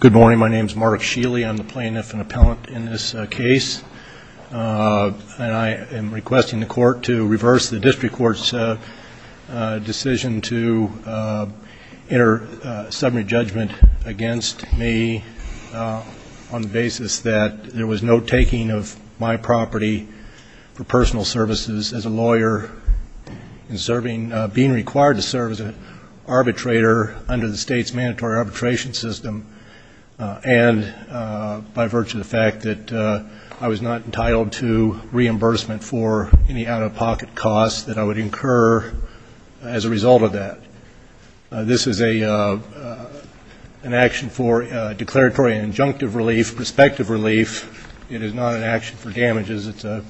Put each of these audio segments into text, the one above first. Good morning. My name is Mark Sheeley. I'm the plaintiff and appellant in this case. I am requesting the court to reverse the district court's decision to enter a summary judgment against me on the basis that there was no taking of my property for personal services as a lawyer being required to serve as an arbitrator under the state's mandatory arbitration system and by virtue of the fact that I was not entitled to reimbursement for any out This is an action for declaratory and injunctive relief, prospective relief. It is not an action for damages. It's a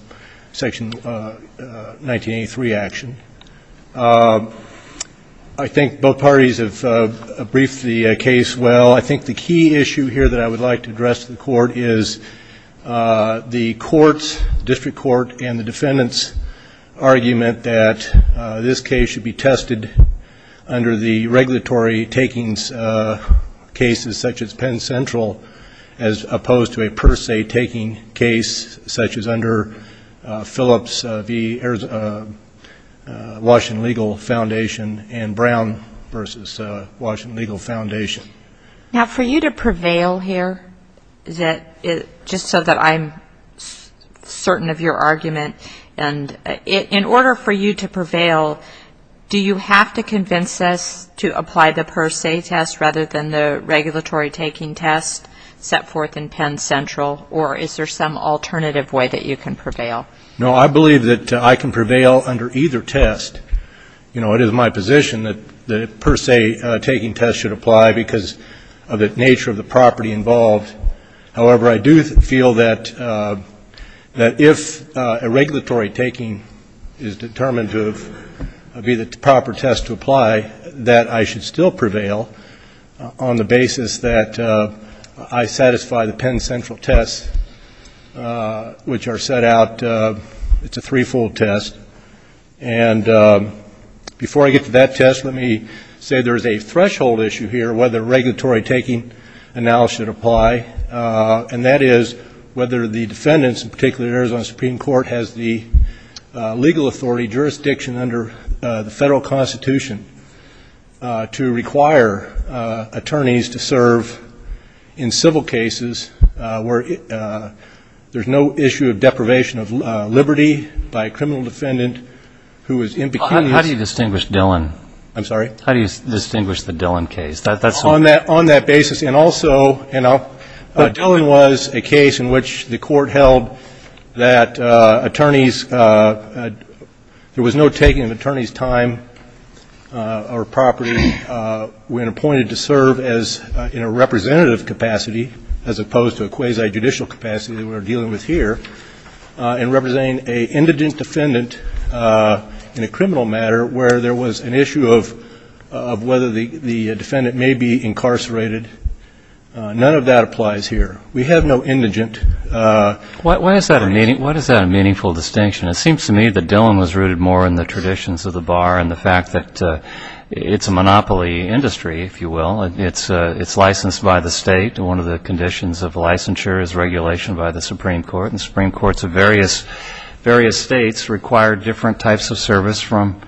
section 1983 action. I think both parties have briefed the case well. I think the key issue here that I would like to address to the court is the court's, the district court and the defendant's argument that this case should be tested under the regulatory takings cases such as Penn Central as opposed to a per se taking case such as under Phillips v. Washington Legal Foundation and Brown v. Washington Legal Foundation. Now for you to prevail here, just so that I'm certain of your argument, in order for you to prevail, do you have to convince us to apply the per se test rather than the regulatory taking test set forth in Penn Central or is there some alternative way that you can prevail? No, I believe that I can prevail under either test. It is my position that the per se taking test should apply because of the nature of the property involved. However, I do feel that if a regulatory taking is determined to be the proper test to apply, that I should still prevail on the basis that I satisfy the Penn Central tests which are set out. It's a three-fold test. And before I get to that test, let me say there is a threshold issue here whether regulatory taking analysis should apply, and that is whether the defendants, in particular the Arizona Supreme Court, has the legal authority jurisdiction under the federal constitution to require attorneys to serve in civil cases where there's no issue of deprivation of liberty by a criminal defendant who is impecunious. How do you distinguish Dillon? I'm sorry? How do you distinguish the Dillon case? On that basis. And also, you know, Dillon was a case in which the court held that attorneys, there was no taking of attorney's time or property when appointed to serve in a representative capacity as opposed to a quasi-judicial capacity that we're dealing with here in representing an indigent defendant in a criminal matter where there was an issue of whether the defendant may be incarcerated. None of that applies here. We have no indigent attorneys. Why is that a meaningful distinction? It seems to me that Dillon was rooted more in the traditions of the bar and the fact that it's a monopoly industry, if you will. It's licensed by the state. One of the conditions of licensure is regulation by the Supreme Court. And the Supreme Courts of various states require different types of service from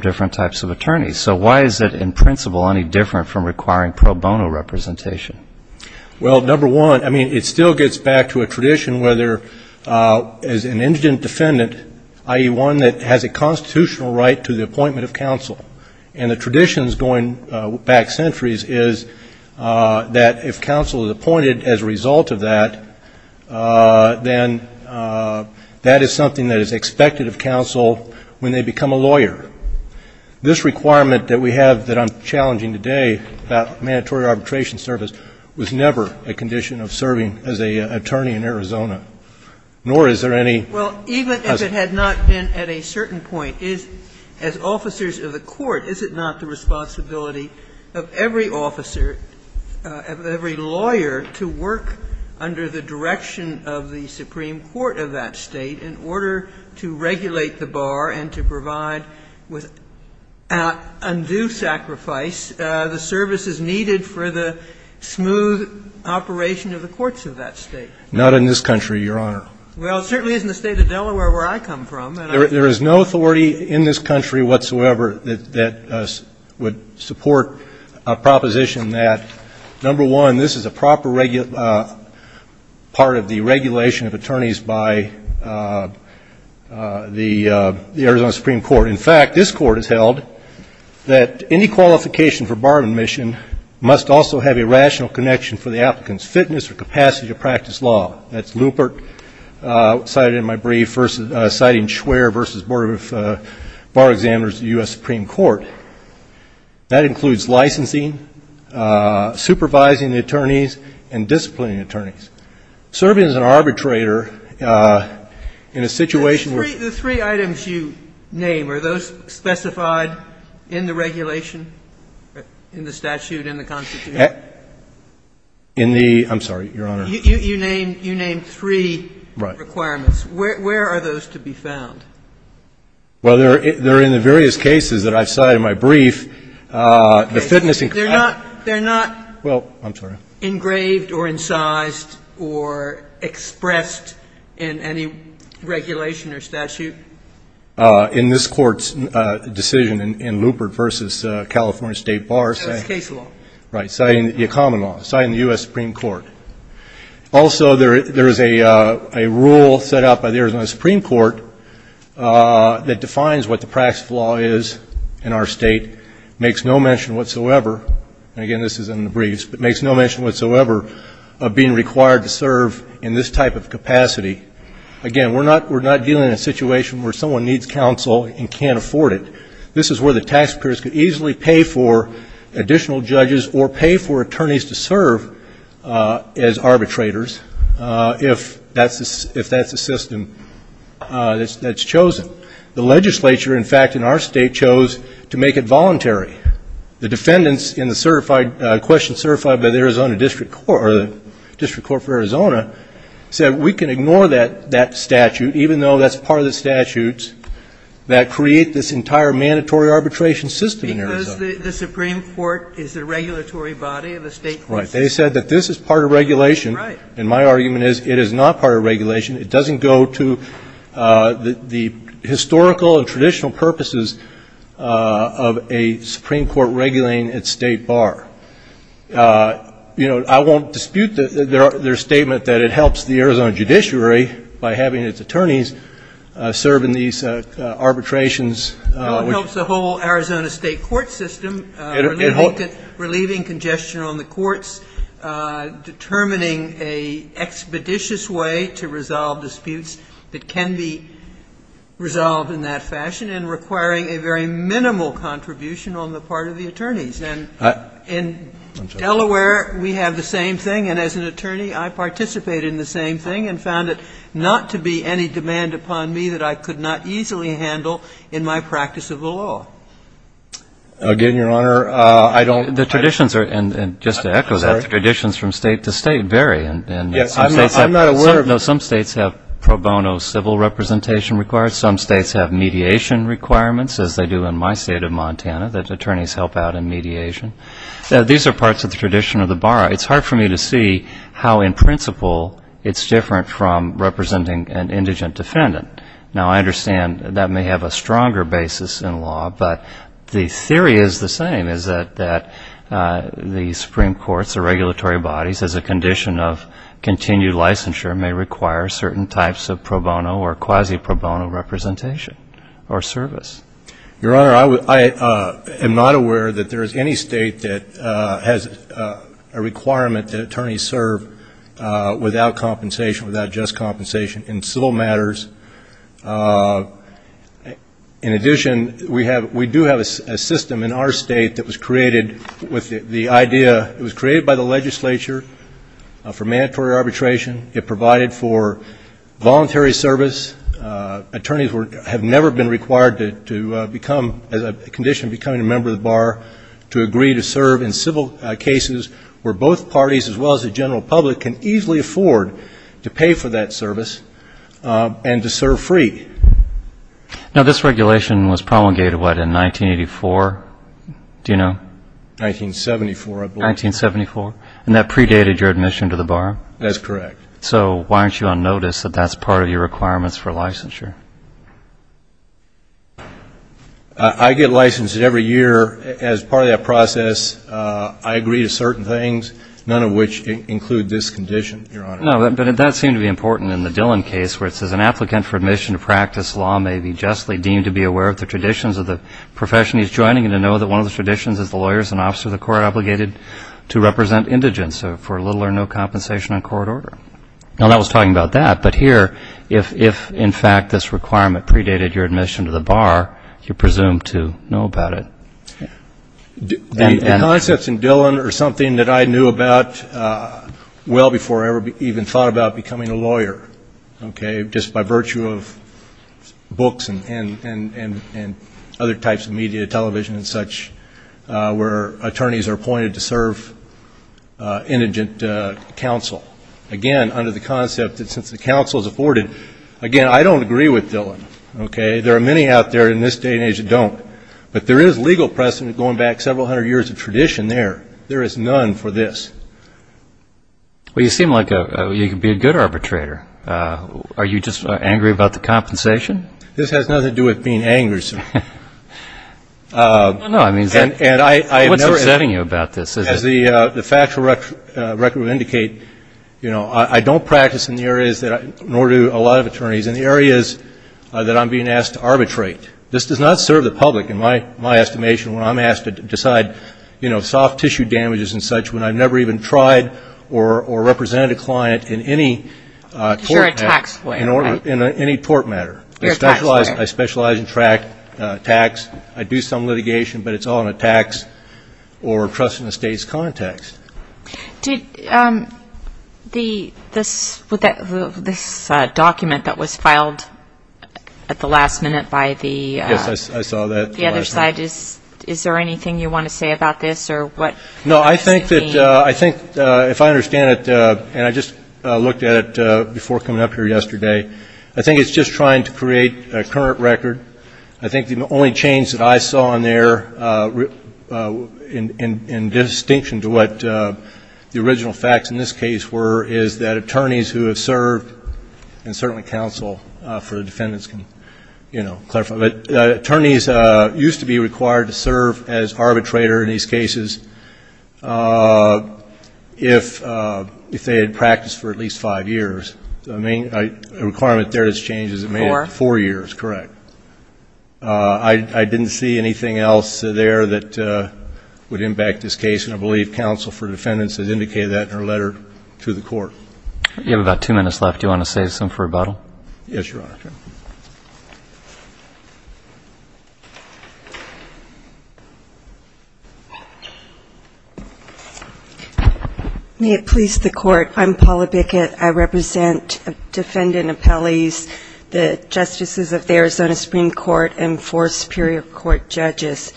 different types of attorneys. So why is it, in principle, any different from requiring pro bono representation? Well, number one, I mean, it still gets back to a tradition where there is an indigent defendant, i.e., one that has a constitutional right to the appointment of counsel. And the traditions going back centuries is that if counsel is appointed as a result of that, then that is something that is expected of counsel when they become a lawyer. This requirement that we have that I'm challenging today about mandatory arbitration service was never a condition of serving as an attorney in Arizona, nor is there any as a lawyer. Sotomayor, is it not the responsibility of every court, is it not the responsibility of every officer, of every lawyer to work under the direction of the Supreme Court of that State in order to regulate the bar and to provide, with undue sacrifice, the services needed for the smooth operation of the courts of that State? Not in this country, Your Honor. Well, it certainly isn't the State of Delaware where I come from. There is no authority in this country whatsoever that would support a proposition that, number one, this is a proper part of the regulation of attorneys by the Arizona Supreme Court. In fact, this Court has held that any qualification for bar admission must also have a rational connection for the applicant's fitness or capacity to practice law. That's Lupert cited in my brief, citing Schwerer v. Bar Examiners of the U.S. Supreme Court. That includes licensing, supervising the attorneys, and disciplining the attorneys. Serving as an arbitrator in a situation where you... The three items you name, are those specified in the regulation, in the statute, in the Constitution? In the ‑‑ I'm sorry, Your Honor. You name three requirements. Right. Where are those to be found? Well, they're in the various cases that I've cited in my brief. Okay. The fitness and capacity. They're not engraved or incised or expressed in any regulation or statute? In this Court's decision in Lupert v. California State Bar. So it's case law. Right. Citing the common law. Citing the U.S. Supreme Court. Also, there is a rule set out by the Arizona Supreme Court that defines what the practice of law is in our state. Makes no mention whatsoever, and again, this is in the briefs, but makes no mention whatsoever of being required to serve in this type of capacity. Again, we're not dealing in a situation where someone needs counsel and can't afford it. This is where the taxpayers could easily pay for additional judges or pay for attorneys to serve as arbitrators if that's the system that's chosen. The legislature, in fact, in our state, chose to make it voluntary. The defendants in the question certified by the Arizona District Court, or the District Court for Arizona, said we can ignore that statute even though that's part of the statutes that create this entire mandatory arbitration system in Arizona. Because the Supreme Court is the regulatory body of the state courts. Right. They said that this is part of regulation. Right. And my argument is it is not part of regulation. It doesn't go to the historical and traditional purposes of a Supreme Court regulating its state bar. You know, I won't dispute their statement that it helps the Arizona judiciary by having its attorneys serve in these arbitrations. It helps the whole Arizona state court system, relieving congestion on the courts, determining an expeditious way to resolve disputes that can be resolved in that fashion and requiring a very minimal contribution on the part of the attorneys. And in Delaware, we have the same thing. And as an attorney, I participated in the same thing and found it not to be any demand upon me that I could not easily handle in my practice of the law. Again, Your Honor, I don't ---- The traditions are, and just to echo that, the traditions from state to state vary. And some states have pro bono civil representation required. Some states have mediation requirements, as they do in my state of Montana, that attorneys help out in mediation. These are parts of the tradition of the bar. It's hard for me to see how, in principle, it's different from representing an indigent defendant. Now, I understand that may have a stronger basis in law, but the theory is the same, is that the Supreme Courts or regulatory bodies, as a condition of continued licensure, may require certain types of pro bono or quasi-pro bono representation or service. Your Honor, I am not aware that there is any state that has a requirement that attorneys serve without compensation, without just compensation, in civil matters. In addition, we do have a system in our state that was created with the idea ---- it was created by the legislature for mandatory arbitration. It provided for voluntary service. Attorneys have never been required to become, as a condition of becoming a member of the bar, to agree to serve in civil cases where both parties, as well as the general public, can easily afford to pay for that service and to serve free. Now, this regulation was promulgated, what, in 1984? Do you know? 1974, I believe. 1974. And that predated your admission to the bar? That's correct. So why aren't you on notice that that's part of your requirements for licensure? I get licensed every year. As part of that process, I agree to certain things, none of which include this condition, Your Honor. No, but that seemed to be important in the Dillon case, where it says an applicant for admission to practice law may be justly deemed to be aware of the traditions of the profession he is joining and to know that one of the traditions is the lawyer is an officer of the court to represent indigents for little or no compensation on court order. Now, that was talking about that. But here, if, in fact, this requirement predated your admission to the bar, you're presumed to know about it. The concepts in Dillon are something that I knew about well before I even thought about becoming a lawyer, okay, just by virtue of books and other types of media, television and such, where attorneys are appointed to serve indigent counsel. Again, under the concept that since the counsel is afforded, again, I don't agree with Dillon, okay? There are many out there in this day and age that don't. But there is legal precedent going back several hundred years of tradition there. There is none for this. Well, you seem like you could be a good arbitrator. Are you just angry about the compensation? This has nothing to do with being angry, sir. No, I mean, what's upsetting you about this? As the factual record would indicate, you know, I don't practice in the areas that I do, nor do a lot of attorneys, in the areas that I'm being asked to arbitrate. This does not serve the public, in my estimation, when I'm asked to decide, you know, soft tissue damages and such when I've never even tried or represented a client in any tort matter. Because you're a tax player, right? In any tort matter. You're a tax player. I specialize in tax. I do some litigation, but it's all in a tax or trust in the state's context. Did this document that was filed at the last minute by the other side, is there anything you want to say about this? No, I think that if I understand it, and I just looked at it before coming up here yesterday, I think it's just trying to create a current record. I think the only change that I saw in there, in distinction to what the original facts in this case were, is that attorneys who have served, and certainly counsel for defendants can, you know, clarify, but attorneys used to be required to serve as arbitrator in these cases if they had practiced for at least five years. The requirement there has changed. Four. Four years, correct. I didn't see anything else there that would impact this case, and I believe counsel for defendants has indicated that in her letter to the court. You have about two minutes left. Do you want to say something for rebuttal? Yes, Your Honor. May it please the Court. I'm Paula Bickett. I represent defendant appellees, the justices of the Arizona Supreme Court, and four Superior Court judges.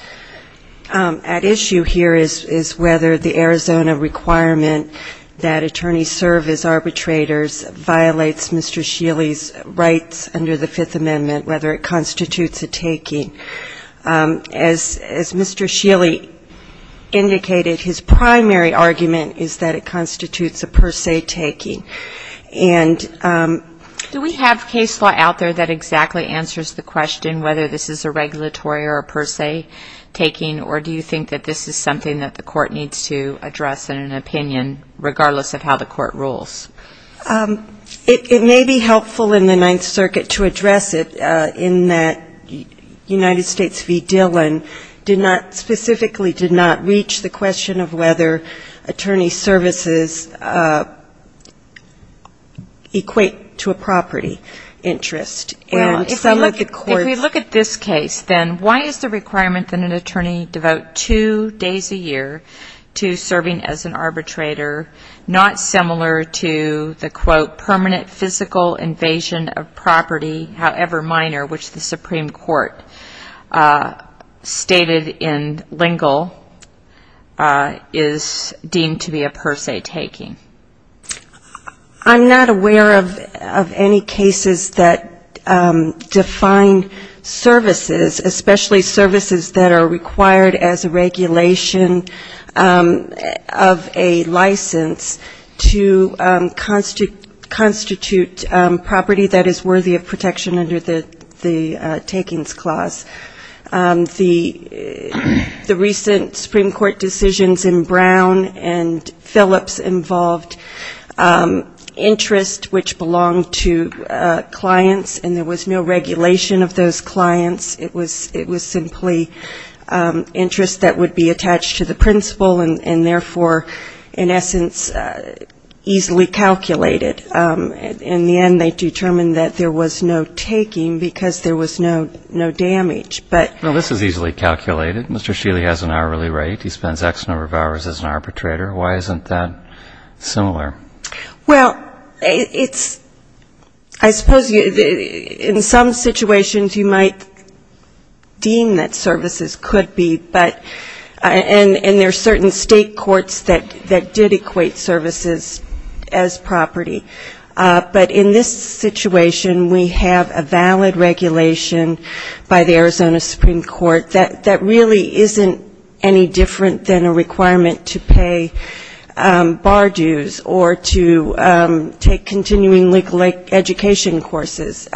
At issue here is whether the Arizona requirement that attorneys serve as arbitrators violates Mr. Shealy's rights under the Fifth Amendment, whether it constitutes a taking. As Mr. Shealy indicated, his primary argument is that it constitutes a per se taking. And do we have case law out there that exactly answers the question whether this is a regulatory or a per se taking, or do you think that this is something that the court needs to address in an opinion, regardless of how the court rules? It may be helpful in the Ninth Circuit to address it in that United States v. Dillon specifically did not reach the question of whether attorney services equate to a property interest. Well, if we look at this case, then why is the requirement that an attorney devote two days a year to serving as an arbitrator not similar to the, quote, permanent physical invasion of property, however minor, which the Supreme Court stated in Lingle is deemed to be a per se taking? I'm not aware of any cases that define services, especially services that are required as a regulation of a license, to constitute property that is worthy of protection under the takings clause. The recent Supreme Court decisions in Brown and Phillips involved interest which belonged to clients, and there was no regulation of those clients, it was simply interest that would be attached to the principal, and therefore, in essence, easily calculated. In the end, they determined that there was no taking because there was no damage. Well, this is easily calculated. Mr. Shealy has an hourly rate, he spends X number of hours as an arbitrator. Why isn't that similar? Well, it's, I suppose in some situations you might deem that services could be, but, and there are certain state courts that did equate services as property. But in this situation, we have a valid regulation by the Arizona Supreme Court that really isn't any different than a requirement to pay bar dues or to take continuing legal education courses.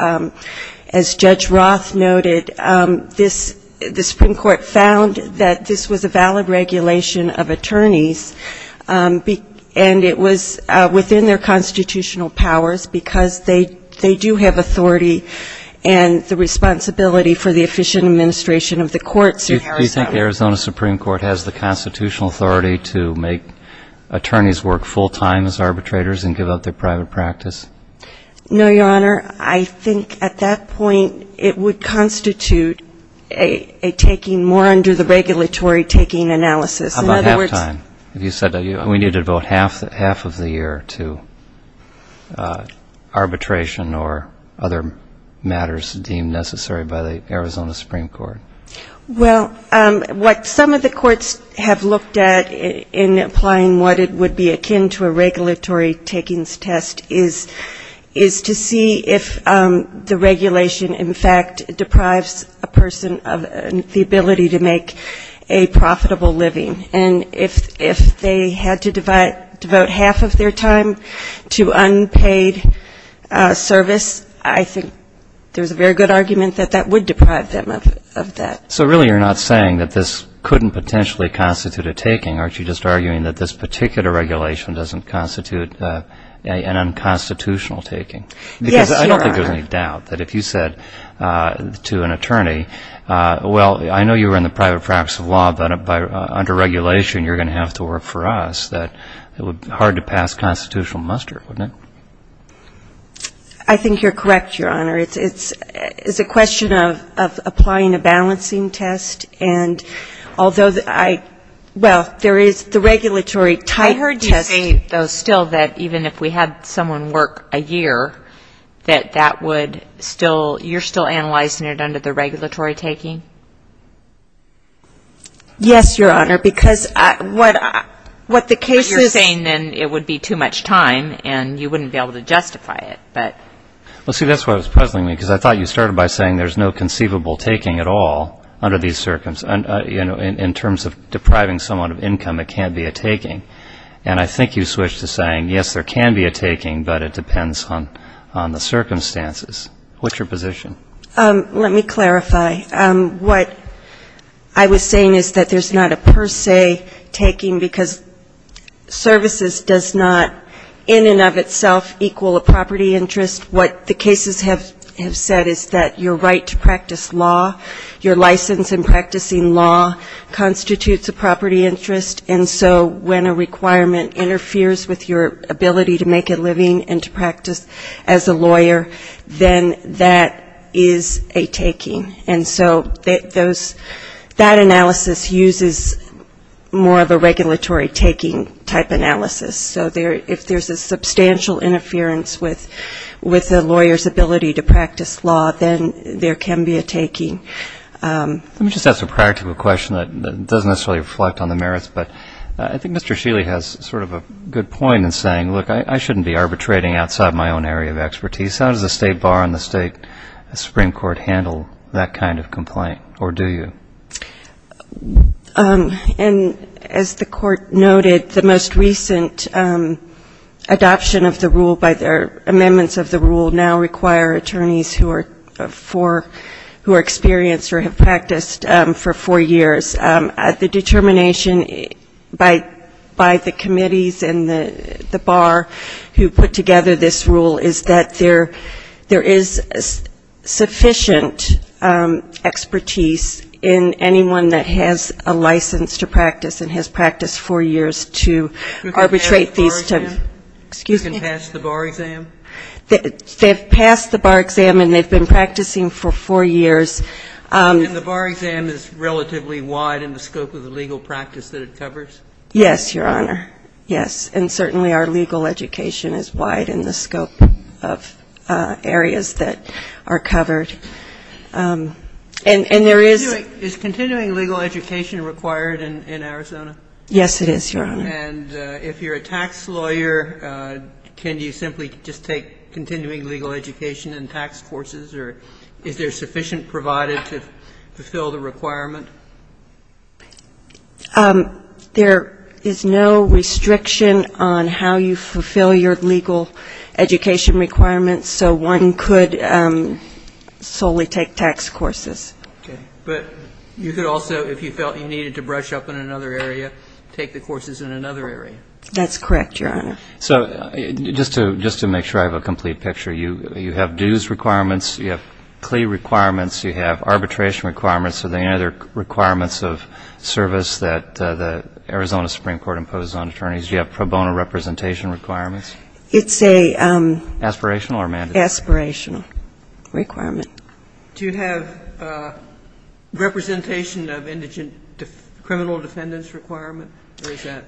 As Judge Roth noted, the Supreme Court found that this was a valid regulation of attorneys, and it was within their constitutional powers because they do have authority and the responsibility for the efficient administration of the courts in Arizona. Does the Arizona Supreme Court has the constitutional authority to make attorneys work full-time as arbitrators and give up their private practice? No, Your Honor, I think at that point it would constitute a taking more under the regulatory taking analysis. How about half-time? If you said we needed about half of the year to arbitration or other matters deemed necessary by the Arizona Supreme Court. Well, what some of the courts have looked at in applying what it would be akin to a regulatory takings test is to see if the regulation, in fact, deprives a person of the ability to make a profitable living. And if they had to devote half of their time to unpaid service, I think there's a very good argument that that would deprive them of that. So really you're not saying that this couldn't potentially constitute a taking. Aren't you just arguing that this particular regulation doesn't constitute an unconstitutional taking? Yes, Your Honor. Because I don't think there's any doubt that if you said to an attorney, well, I know you were in the private practice of law, but under regulation you're going to have to work for us, that it would be hard to pass constitutional muster, wouldn't it? It's a question of applying a balancing test, and although I — well, there is the regulatory type test. I heard you say, though, still, that even if we had someone work a year, that that would still — you're still analyzing it under the regulatory taking? Yes, Your Honor, because what the case is — But you're saying then it would be too much time and you wouldn't be able to justify it. Well, see, that's why I was puzzling you, because I thought you started by saying there's no conceivable taking at all under these circumstances. In terms of depriving someone of income, it can't be a taking. And I think you switched to saying, yes, there can be a taking, but it depends on the circumstances. What's your position? Let me clarify. What I was saying is that there's not a per se taking, because services does not in and of itself equal a property interest. What the cases have said is that your right to practice law, your license in practicing law, constitutes a property interest. And so when a requirement interferes with your ability to make a living and to practice as a lawyer, then that is a taking. And so that analysis uses more of a regulatory taking type analysis. So if there's a substantial interference with a lawyer's ability to practice law, then there can be a taking. Let me just ask a practical question that doesn't necessarily reflect on the merits. But I think Mr. Shealy has sort of a good point in saying, look, I shouldn't be arbitrating outside my own area of expertise. How does the State Bar and the State Supreme Court handle that kind of complaint, or do you? And as the court noted, the most recent adoption of the rule by their amendments of the rule now require attorneys who are experienced or have practiced for four years. The determination by the committees and the bar who put together this rule is that there is sufficient expertise in the State Bar and the State Supreme Court. And there is sufficient expertise in anyone that has a license to practice and has practiced four years to arbitrate these types. Excuse me. You can pass the bar exam? They've passed the bar exam and they've been practicing for four years. Is continuing legal education required in Arizona? Yes, it is, Your Honor. And if you're a tax lawyer, can you simply just take continuing legal education and tax courses, or is there sufficient provided to fulfill the requirement? There is no restriction on how you fulfill your legal education requirements, so one could solely take tax courses. But you could also, if you felt you needed to brush up in another area, take the courses in another area. That's correct, Your Honor. So just to make sure I have a complete picture, you have dues requirements, you have plea requirements, you have arbitration requirements. Are there any other requirements of service that the Arizona Supreme Court imposes on attorneys? Do you have pro bono representation requirements? It's an aspirational requirement. Do you have representation of indigent criminal defendants requirement, or is that?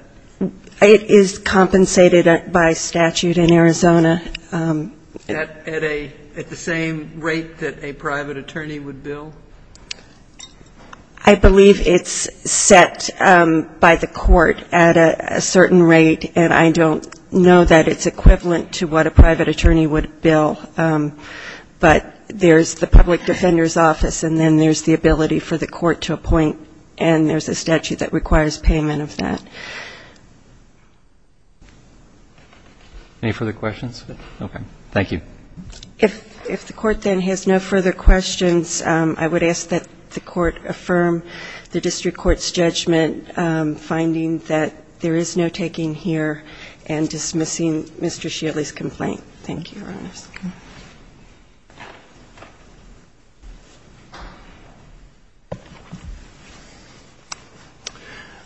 It is compensated by statute in Arizona. At the same rate that a private attorney would bill? I believe it's set by the court at a certain rate, and I don't know that it's set by the court. It's equivalent to what a private attorney would bill. But there's the public defender's office, and then there's the ability for the court to appoint, and there's a statute that requires payment of that. Any further questions? Okay. Thank you. If the court then has no further questions, I would ask that the court affirm the district court's judgment, finding that there is no taking here, and dismissing Mr. Shealy's complaint. Thank you, Your Honor.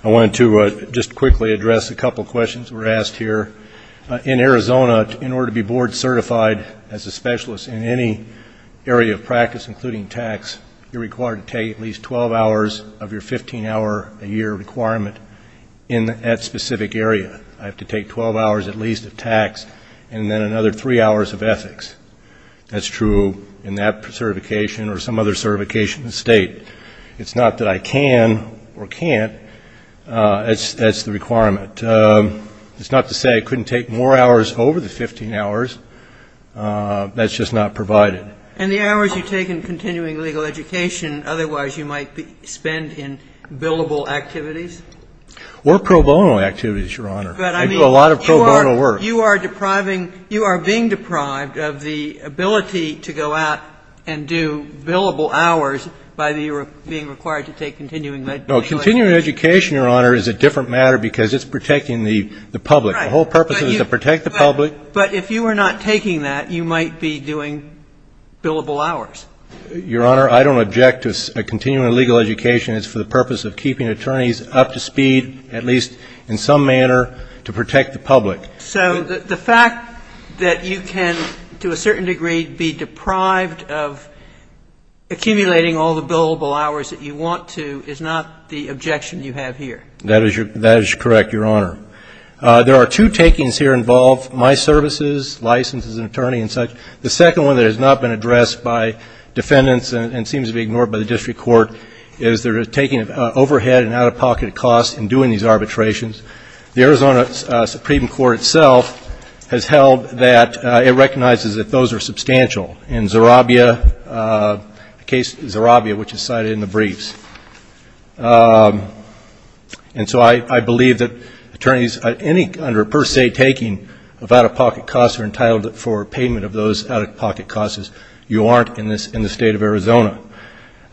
I wanted to just quickly address a couple questions were asked here. In Arizona, in order to be board certified as a specialist in any area of practice, including tax, you're required to take at least 12 hours of your 15-hour-a-year requirement in that specific area. I have to take 12 hours at least of tax, and then another three hours of ethics. That's true in that certification or some other certification in the state. It's not that I can or can't. That's the requirement. It's not to say I couldn't take more hours over the 15 hours. That's just not provided. Or pro bono activities, Your Honor. I do a lot of pro bono work. But you are depriving, you are being deprived of the ability to go out and do billable hours by being required to take continuing education. No, continuing education, Your Honor, is a different matter because it's protecting the public. The whole purpose is to protect the public. But if you are not taking that, you might be doing billable hours. Your Honor, I don't object to continuing legal education. It's for the purpose of keeping attorneys up to speed, at least in some manner, to protect the public. So the fact that you can, to a certain degree, be deprived of accumulating all the billable hours that you want to is not the objection you have here. That is correct, Your Honor. There are two takings here involved, my services, license as an attorney and such. The second one that has not been addressed by defendants and seems to be ignored by the district court is they're taking overhead and out-of-pocket costs in doing these arbitrations. The Arizona Supreme Court itself has held that it recognizes that those are substantial. In Zerabia, the case Zerabia, which is cited in the briefs. And so I believe that attorneys, under a per se taking of out-of-pocket costs, are entitled for payment of those out-of-pocket costs if you aren't in the State of Arizona.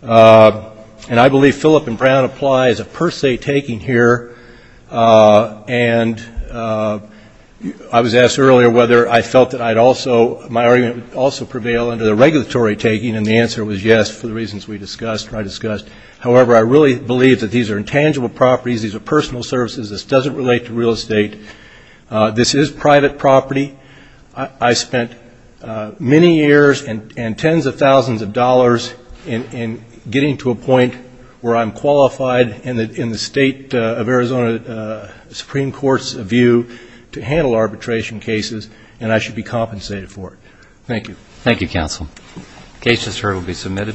And I believe Philip and Brown apply as a per se taking here. And I was asked earlier whether I felt that I'd also, my argument would also prevail under the regulatory taking, and the answer was yes for the reasons we discussed or I discussed. However, I really believe that these are intangible properties. These are personal services. This doesn't relate to real estate. This is private property. I spent many years and tens of thousands of dollars in getting to a point where I'm qualified in the State of Arizona Supreme Court's view to handle arbitration cases, and I should be compensated for it. Thank you. Thank you, counsel. Cases heard will be submitted.